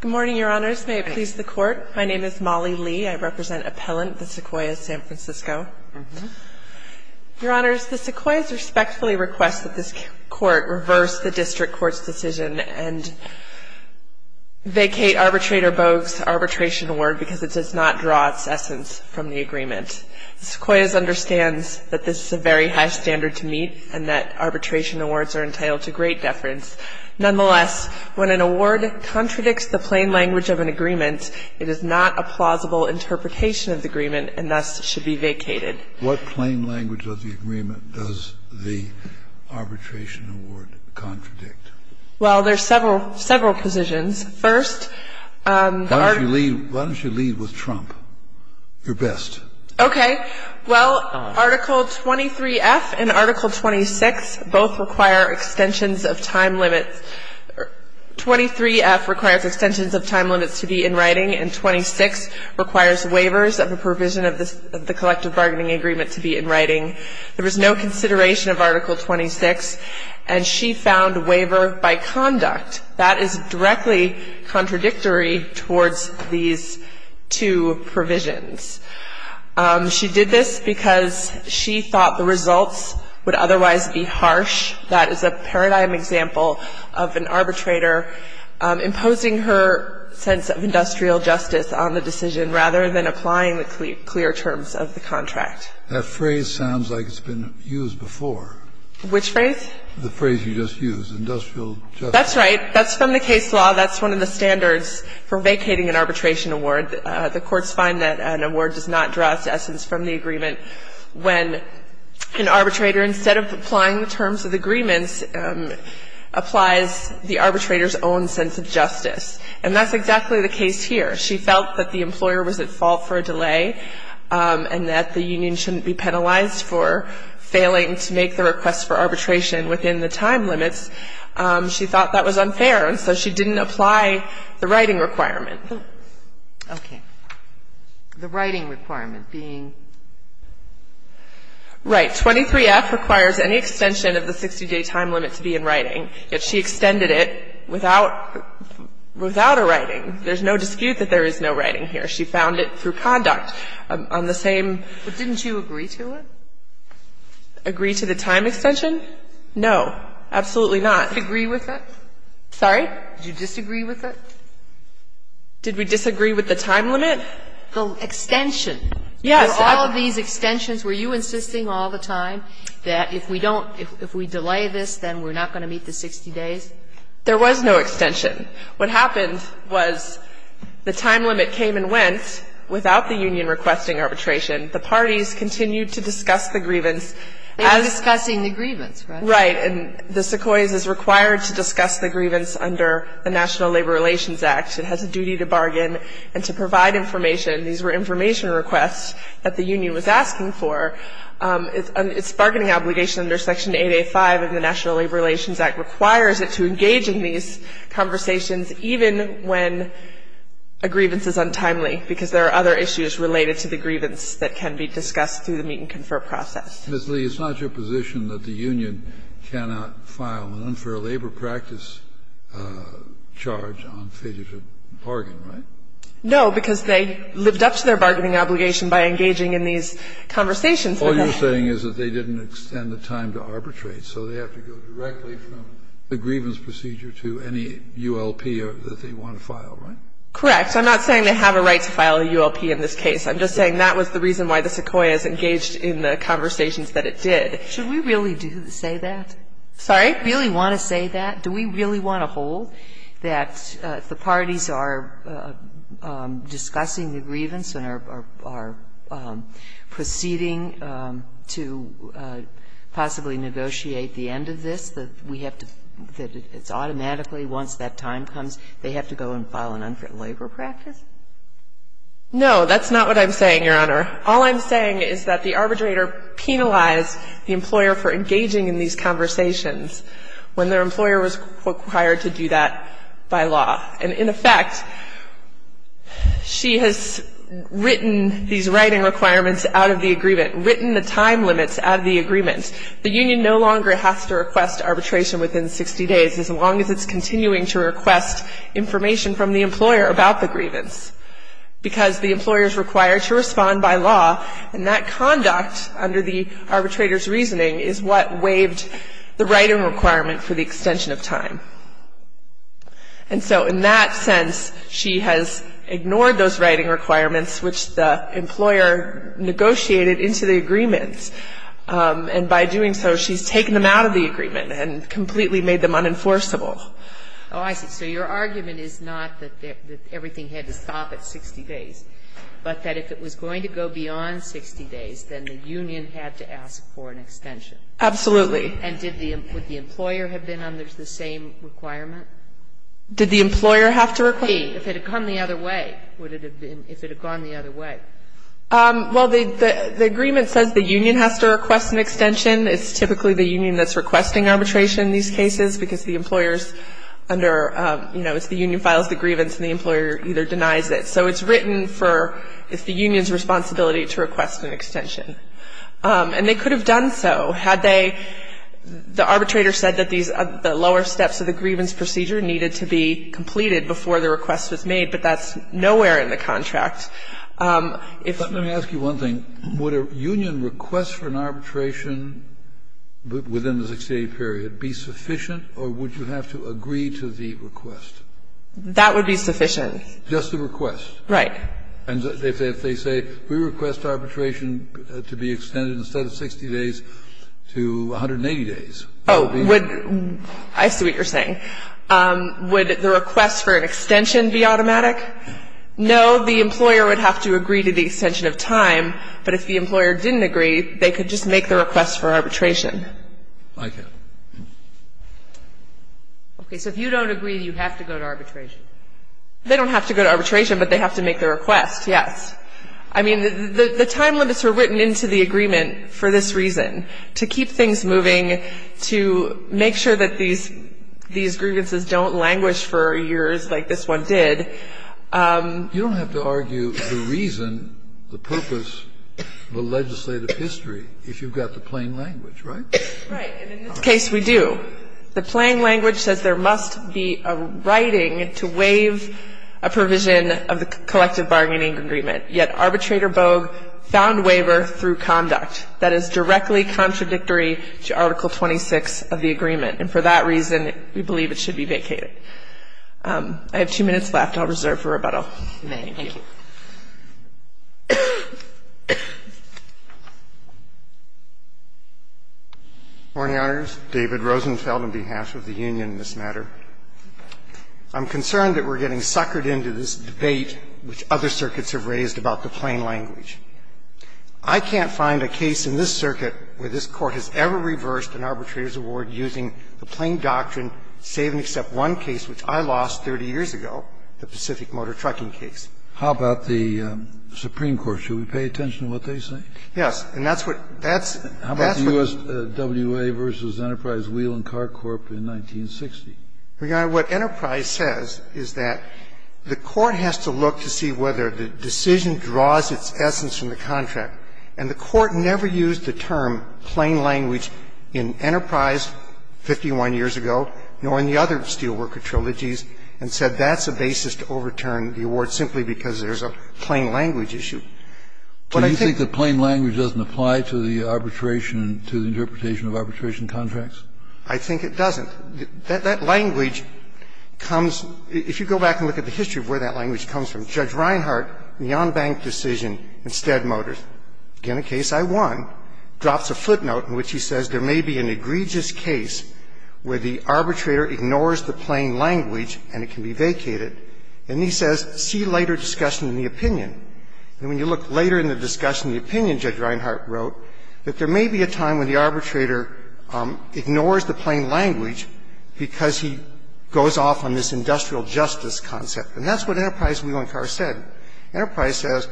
Good morning, Your Honors. May it please the Court. My name is Molly Lee. I represent Appellant, the Sequoias, San Francisco. Your Honors, the Sequoias respectfully request that this Court reverse the District Court's decision and vacate Arbitrator Bogue's Arbitration Award because it does not draw its essence from the agreement. The Sequoias understands that this is a very high standard to meet and that arbitration awards are entitled to great deference. Nonetheless, when an award contradicts the plain language of an agreement, it is not a plausible interpretation of the agreement and thus should be vacated. What plain language of the agreement does the Arbitration Award contradict? Well, there are several positions. First… Why don't you lead with Trump? You're best. Okay. Well, Article 23F and Article 26 both require extensions of time limits. 23F requires extensions of time limits to be in writing, and 26 requires waivers of a provision of the collective bargaining agreement to be in writing. There was no consideration of Article 26, and she found waiver by conduct. That is directly contradictory towards these two provisions. She did this because she thought the results would otherwise be harsh. That is a paradigm example of an arbitrator imposing her sense of industrial justice on the decision rather than applying the clear terms of the contract. That phrase sounds like it's been used before. Which phrase? The phrase you just used, industrial justice. That's right. That's from the case law. That's one of the standards for vacating an arbitration award. The courts find that an award does not draw its essence from the agreement when an arbitrator, instead of applying the terms of the agreements, applies the arbitrator's own sense of justice. And that's exactly the case here. She felt that the employer was at fault for a delay and that the union shouldn't be penalized for failing to make the request for arbitration within the time limits. She thought that was unfair, and so she didn't apply the writing requirement. Okay. The writing requirement being? Right. 23F requires any extension of the 60-day time limit to be in writing, yet she extended it without a writing. There's no dispute that there is no writing here. She found it through conduct on the same. But didn't you agree to it? Agree to the time extension? No, absolutely not. Did you disagree with it? Sorry? Did you disagree with it? Did we disagree with the time limit? The extension. Yes. Were all of these extensions, were you insisting all the time that if we don't, if we delay this, then we're not going to meet the 60 days? There was no extension. What happened was the time limit came and went without the union requesting arbitration. The parties continued to discuss the grievance. They were discussing the grievance, right? Right. And the Sequoias is required to discuss the grievance under the National Labor Relations Act. It has a duty to bargain and to provide information. These were information requests that the union was asking for. Its bargaining obligation under Section 885 of the National Labor Relations Act requires it to engage in these conversations even when a grievance is untimely, because there are other issues related to the grievance that can be discussed through the meet-and-confer process. Ms. Lee, it's not your position that the union cannot file an unfair labor practice charge on failure to bargain, right? No, because they lived up to their bargaining obligation by engaging in these conversations. All you're saying is that they didn't extend the time to arbitrate, so they have to go directly from the grievance procedure to any ULP that they want to file, right? Correct. I'm not saying they have a right to file a ULP in this case. I'm just saying that was the reason why the Sequoias engaged in the conversations that it did. Should we really say that? Sorry? Do we really want to say that? Do we really want to hold that the parties are discussing the grievance and are proceeding to possibly negotiate the end of this, that we have to – that it's automatically once that time comes they have to go and file an unfair labor practice? No, that's not what I'm saying, Your Honor. All I'm saying is that the arbitrator penalized the employer for engaging in these conversations when their employer was required to do that by law. And in effect, she has written these writing requirements out of the agreement written the time limits out of the agreement. The union no longer has to request arbitration within 60 days as long as it's continuing to request information from the employer about the grievance because the employer is required to respond by law and that conduct under the arbitrator's reasoning is what waived the writing requirement for the extension of time. And so in that sense, she has ignored those writing requirements which the employer has written out of the agreement. And by doing so, she's taken them out of the agreement and completely made them unenforceable. Oh, I see. So your argument is not that everything had to stop at 60 days, but that if it was going to go beyond 60 days, then the union had to ask for an extension. Absolutely. And did the – would the employer have been under the same requirement? Did the employer have to require it? If it had gone the other way. Would it have been – if it had gone the other way. Well, the agreement says the union has to request an extension. It's typically the union that's requesting arbitration in these cases because the employer's under – you know, it's the union files the grievance and the employer either denies it. So it's written for – it's the union's responsibility to request an extension. And they could have done so had they – the arbitrator said that these – the lower steps of the grievance procedure needed to be completed before the request was made, but that's nowhere in the contract. But let me ask you one thing. Would a union request for an arbitration within the 60-day period be sufficient or would you have to agree to the request? That would be sufficient. Just the request. Right. And if they say we request arbitration to be extended instead of 60 days to 180 days, that would be? Oh, I see what you're saying. Would the request for an extension be automatic? No. Well, the employer would have to agree to the extension of time, but if the employer didn't agree, they could just make the request for arbitration. I get it. Okay. So if you don't agree, you have to go to arbitration? They don't have to go to arbitration, but they have to make the request, yes. I mean, the time limits are written into the agreement for this reason, to keep things moving, to make sure that these grievances don't languish for years like this one did. You don't have to argue the reason, the purpose, the legislative history if you've got the plain language, right? Right. And in this case, we do. The plain language says there must be a writing to waive a provision of the collective bargaining agreement, yet Arbitrator Bogue found waiver through conduct. That is directly contradictory to Article 26 of the agreement, and for that reason we believe it should be vacated. I have two minutes left. I'll reserve for rebuttal. Thank you. Morning, Your Honors. David Rosenfeld on behalf of the union in this matter. I'm concerned that we're getting suckered into this debate which other circuits have raised about the plain language. I can't find a case in this circuit where this Court has ever reversed an arbitrator's award using the plain doctrine, save and except one case which I lost 30 years ago, the Pacific Motor Trucking case. How about the Supreme Court? Should we pay attention to what they say? Yes. And that's what that's, that's what. How about the U.S. W.A. v. Enterprise Wheel and Car Corp. in 1960? Your Honor, what Enterprise says is that the Court has to look to see whether the decision draws its essence from the contract. And the Court never used the term plain language in Enterprise 51 years ago, nor in the other Steelworker trilogies, and said that's a basis to overturn the award simply because there's a plain language issue. But I think the plain language doesn't apply to the arbitration, to the interpretation of arbitration contracts? I think it doesn't. That language comes, if you go back and look at the history of where that language comes from, Judge Reinhart, Neon Bank decision in Stead Motors, again a case I won, drops a footnote in which he says there may be an egregious case where the arbitrator ignores the plain language and it can be vacated. And he says, see later discussion in the opinion. And when you look later in the discussion in the opinion, Judge Reinhart wrote, that there may be a time when the arbitrator ignores the plain language because he goes off on this industrial justice concept. And that's what Enterprise Wheel and Car said. Enterprise says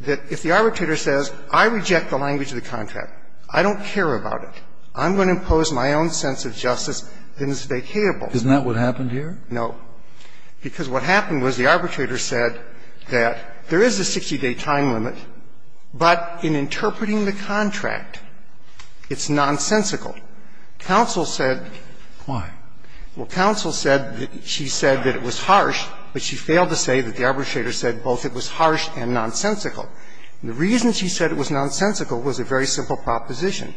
that if the arbitrator says, I reject the language of the contract, I don't care about it. I'm going to impose my own sense of justice, then it's vacatable. Isn't that what happened here? No. Because what happened was the arbitrator said that there is a 60-day time limit, but in interpreting the contract, it's nonsensical. Counsel said. Why? Well, counsel said that she said that it was harsh, but she failed to say that the arbitrator said both it was harsh and nonsensical. The reason she said it was nonsensical was a very simple proposition.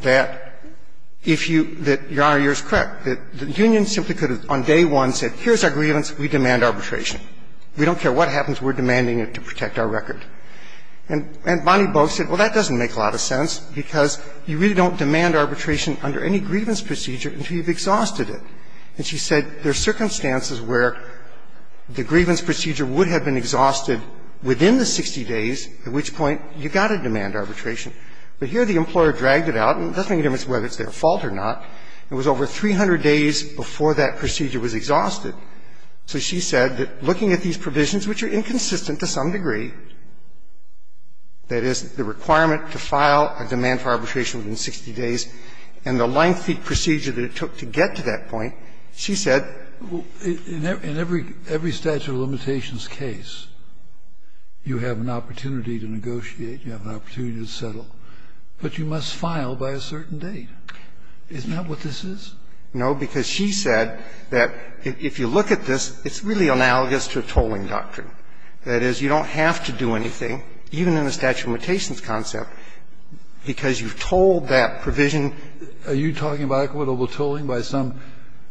That if you – that, Your Honor, you're correct. The union simply could have on day one said, here's our grievance. We demand arbitration. We don't care what happens. We're demanding it to protect our record. And Bonnie Boak said, well, that doesn't make a lot of sense because you really don't demand arbitration under any grievance procedure until you've exhausted it. And she said there are circumstances where the grievance procedure would have been exhausted within the 60 days, at which point you've got to demand arbitration. But here the employer dragged it out, and it doesn't make a difference whether it's their fault or not. It was over 300 days before that procedure was exhausted. So she said that looking at these provisions, which are inconsistent to some degree, that is, the requirement to file a demand for arbitration within 60 days, and the lengthy procedure that it took to get to that point, she said – Scalia, in every statute of limitations case, you have an opportunity to negotiate. You have an opportunity to settle. But you must file by a certain date. Isn't that what this is? No, because she said that if you look at this, it's really analogous to a tolling doctrine. That is, you don't have to do anything, even in a statute of limitations concept, because you've told that provision. Are you talking about equitable tolling by some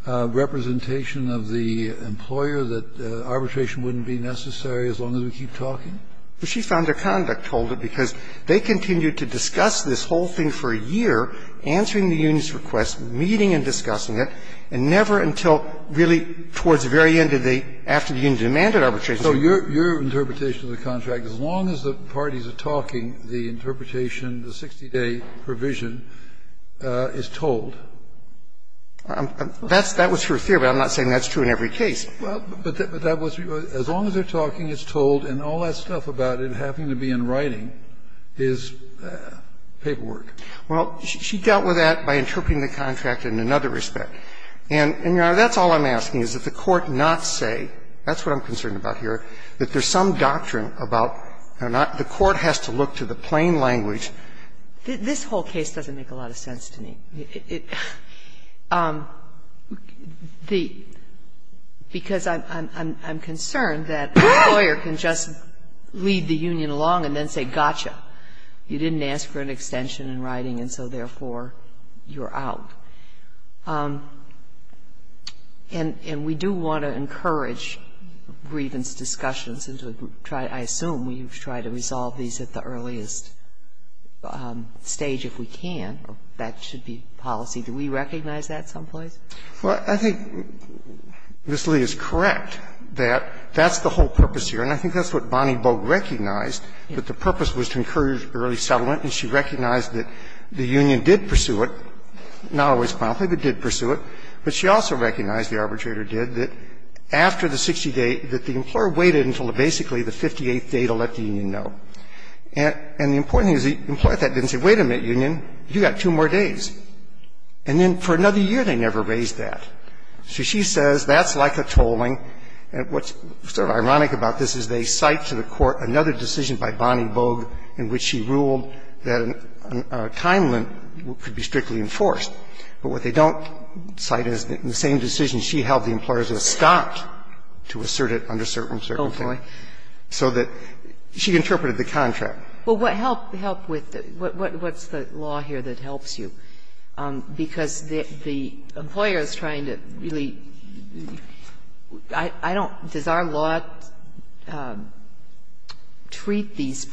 representation of the employer that arbitration wouldn't be necessary as long as we keep talking? Well, she found their conduct told it, because they continued to discuss this whole thing for a year, answering the union's request, meeting and discussing it, and never until really towards the very end of the – after the union demanded arbitration. So your interpretation of the contract, as long as the parties are talking, the interpretation, the 60-day provision, is told? That's – that was her theory, but I'm not saying that's true in every case. Well, but that was – as long as they're talking, it's told, and all that stuff about it having to be in writing is paperwork. Well, she dealt with that by interpreting the contract in another respect. And, Your Honor, that's all I'm asking, is that the Court not say – that's what I'm concerned about here – that there's some doctrine about – the Court has to look to the plain language. This whole case doesn't make a lot of sense to me. It – because I'm concerned that a lawyer can just lead the union along and then say, gotcha, you didn't ask for an extension in writing, and so therefore, you're out. And we do want to encourage grievance discussions into a group. I assume you've tried to resolve these at the earliest stage if we can. That should be policy. Do we recognize that someplace? Well, I think Ms. Lee is correct that that's the whole purpose here. And I think that's what Bonnie Boag recognized, that the purpose was to encourage early settlement. And she recognized that the union did pursue it, not always promptly, but did pursue it. But she also recognized, the arbitrator did, that after the 60-day – that the employer waited until basically the 58th day to let the union know. And the important thing is the employer didn't say, wait a minute, union, you've got two more days. And then for another year, they never raised that. So she says that's like a tolling. And what's sort of ironic about this is they cite to the Court another decision by Bonnie Boag in which she ruled that a time limit could be strictly enforced. But what they don't cite is the same decision she held the employers were stopped to assert it under certain circumstances. So there was also some mixed mix here. She said it was regardless of the time time, because the employers could do this temporarily, so that she interpreted the contract. But what helped – helped with what's the law here that helps you? Because the employer is trying to really – I don't, does our law treat these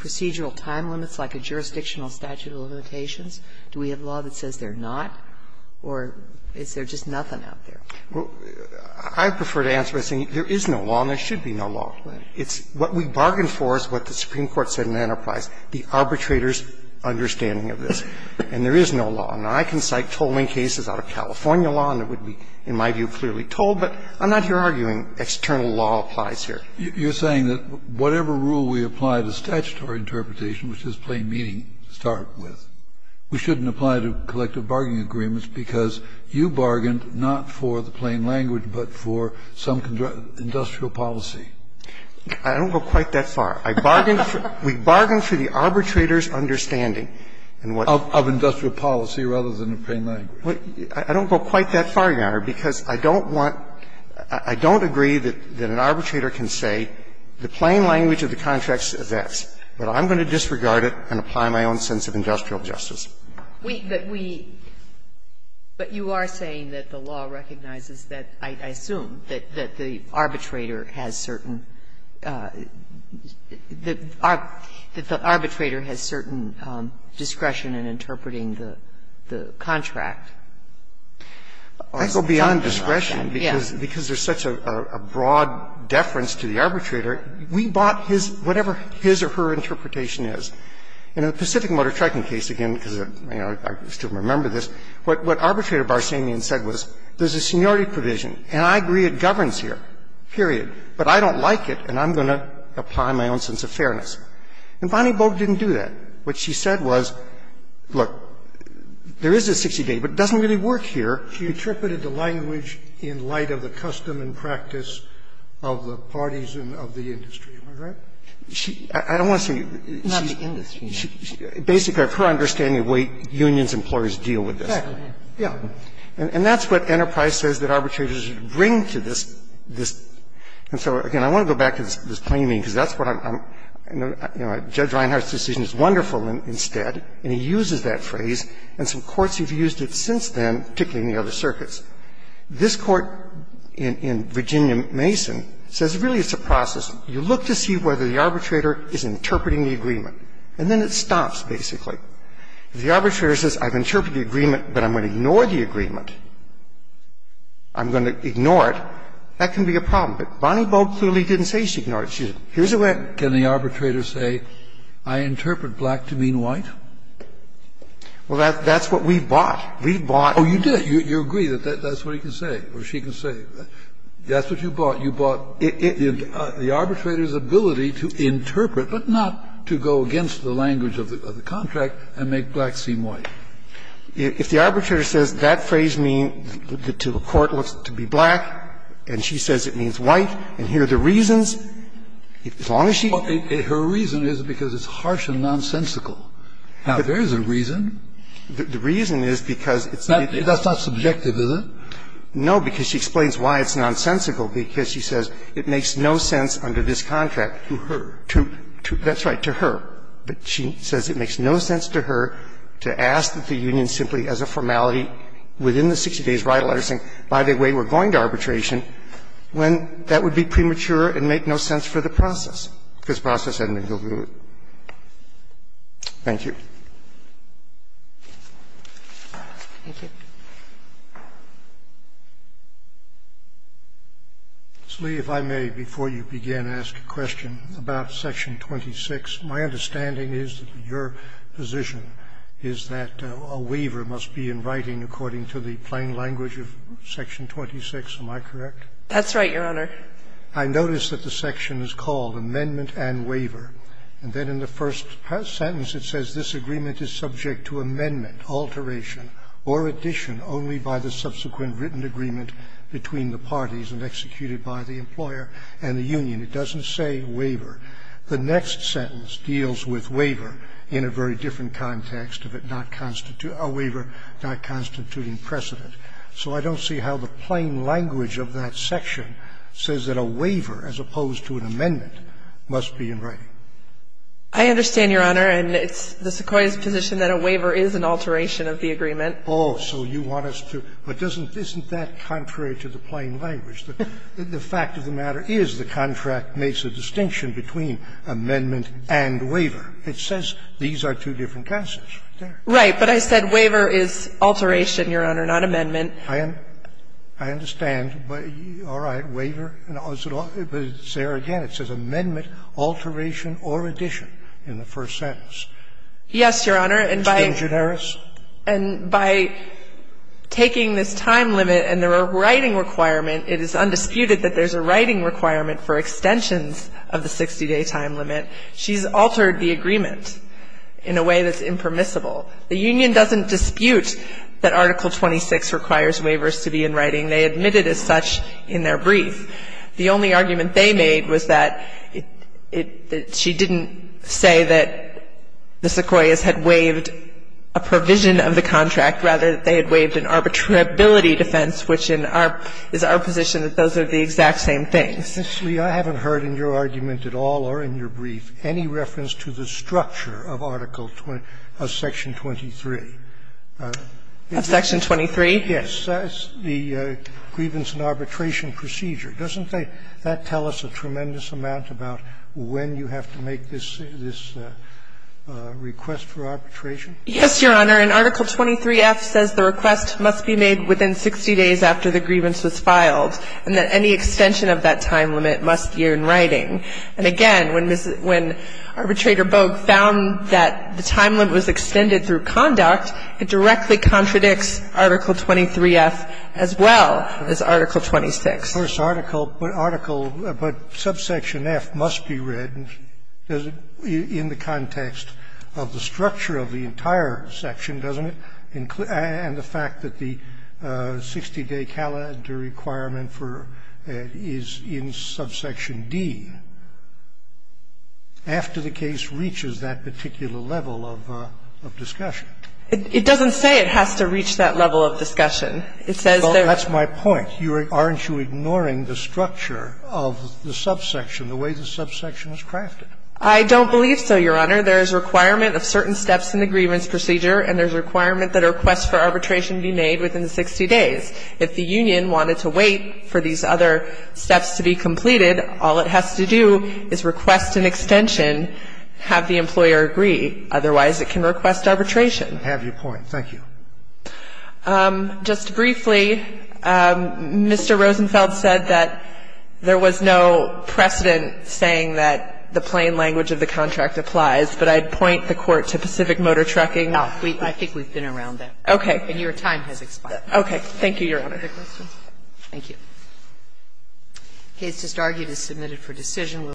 It's – what we bargained for is what the Supreme Court said in Enterprise, the arbitrator's understanding of this, and there is no law. Now, I can cite tolling cases out of California law, and it would be, in my view, clearly told, but I'm not here arguing external law applies here. You're saying that whatever rule we apply to statutory interpretation, which is plain meaning to start with, we shouldn't apply to collective bargaining agreements because you bargained not for the plain language, but for some industrial policy. I don't go quite that far. I bargained for – we bargained for the arbitrator's understanding. And what Of industrial policy rather than the plain language. I don't go quite that far, Your Honor, because I don't want – I don't agree that an arbitrator can say the plain language of the contract says this, but I'm going to disregard it and apply my own sense of industrial justice. We – that we – but you are saying that the law recognizes that, I assume, that the arbitrator has certain – that the arbitrator has certain discretion in interpreting the contract. I go beyond discretion because there's such a broad deference to the arbitrator. We bought his – whatever his or her interpretation is. In the Pacific Motor Trucking case, again, because I still remember this, what Arbitrator Barsanian said was there's a seniority provision, and I agree it governs here, period, but I don't like it and I'm going to apply my own sense of fairness. And Bonnie Boag didn't do that. What she said was, look, there is a 60-day, but it doesn't really work here. She interpreted the language in light of the custom and practice of the parties and of the industry. Am I right? She – I don't want to say the industry. Basically, her understanding of the way unions and employers deal with this. And that's what Enterprise says that arbitrators should bring to this – this. And so, again, I want to go back to this claiming, because that's what I'm – I know Judge Reinhart's decision is wonderful instead, and he uses that phrase, and some courts have used it since then, particularly in the other circuits. This Court in Virginia Mason says really it's a process. You look to see whether the arbitrator is interpreting the agreement, and then it stops, basically. If the arbitrator says, I've interpreted the agreement, but I'm going to ignore the agreement, I'm going to ignore it, that can be a problem. But Bonnie Boag clearly didn't say she ignored it. She said, here's the way it – Kennedy, can the arbitrator say, I interpret black to mean white? Well, that's what we bought. We bought – Oh, you did. You agree that that's what he can say or she can say. That's what you bought. You bought the arbitrator's ability to interpret, but not to go against the language of the contract and make black seem white. If the arbitrator says that phrase means to the court to be black, and she says it means white, and here are the reasons, as long as she – Well, her reason is because it's harsh and nonsensical. Now, there is a reason. The reason is because it's – That's not subjective, is it? No, because she explains why it's nonsensical, because she says it makes no sense under this contract. To her. To – that's right, to her. But she says it makes no sense to her to ask that the union simply as a formality within the 60 days write a letter saying, by the way, we're going to arbitration, when that would be premature and make no sense for the process. If it's process, then you'll do it. Thank you. Thank you. Mr. Lee, if I may, before you begin, ask a question about Section 26. My understanding is that your position is that a waiver must be in writing according to the plain language of Section 26. Am I correct? That's right, Your Honor. I notice that the section is called Amendment and Waiver. And then in the first sentence, it says, This agreement is subject to amendment, alteration, or addition only by the subsequent written agreement between the parties and executed by the employer and the union. It doesn't say waiver. The next sentence deals with waiver in a very different context of it not – a waiver not constituting precedent. So I don't see how the plain language of that section says that a waiver, as opposed to an amendment, must be in writing. I understand, Your Honor, and it's the Sequoia's position that a waiver is an alteration of the agreement. Oh, so you want us to – but doesn't – isn't that contrary to the plain language? The fact of the matter is the contract makes a distinction between amendment and waiver. It says these are two different concepts. Right. But I said waiver is alteration, Your Honor, not amendment. I understand. All right. Waiver. It's there again. It says amendment, alteration, or addition in the first sentence. Yes, Your Honor, and by – It's been generous? And by taking this time limit and the writing requirement, it is undisputed that there's a writing requirement for extensions of the 60-day time limit. She's altered the agreement in a way that's impermissible. The union doesn't dispute that Article 26 requires waivers to be in writing. They admit it as such in their brief. The only argument they made was that it – that she didn't say that the Sequoias had waived a provision of the contract, rather that they had waived an arbitrability defense, which in our – is our position that those are the exact same things. I haven't heard in your argument at all or in your brief any reference to the structure of Article – of Section 23. Of Section 23? Yes. And it says the grievance and arbitration procedure. Doesn't that tell us a tremendous amount about when you have to make this – this request for arbitration? Yes, Your Honor, and Article 23F says the request must be made within 60 days after the grievance was filed, and that any extension of that time limit must be in writing. And again, when Ms. – when Arbitrator Boag found that the time limit was extended through conduct, it directly contradicts Article 23F, as well as Article 26. Of course, Article – but Article – but subsection F must be read, does it, in the context of the structure of the entire section, doesn't it, and the fact that the 60-day calendar requirement for – is in subsection D, after the case reaches that particular level of – of discussion? It doesn't say it has to reach that level of discussion. It says that – Well, that's my point. You – aren't you ignoring the structure of the subsection, the way the subsection is crafted? I don't believe so, Your Honor. There is a requirement of certain steps in the grievance procedure, and there's a requirement that a request for arbitration be made within the 60 days. If the union wanted to wait for these other steps to be completed, all it has to do is request an extension, have the employer agree. Otherwise, it can request arbitration. I have your point. Thank you. Just briefly, Mr. Rosenfeld said that there was no precedent saying that the plain language of the contract applies, but I'd point the Court to Pacific Motor Trucking. No. I think we've been around that. Okay. And your time has expired. Okay. Thank you, Your Honor. Thank you. The case just argued is submitted for decision.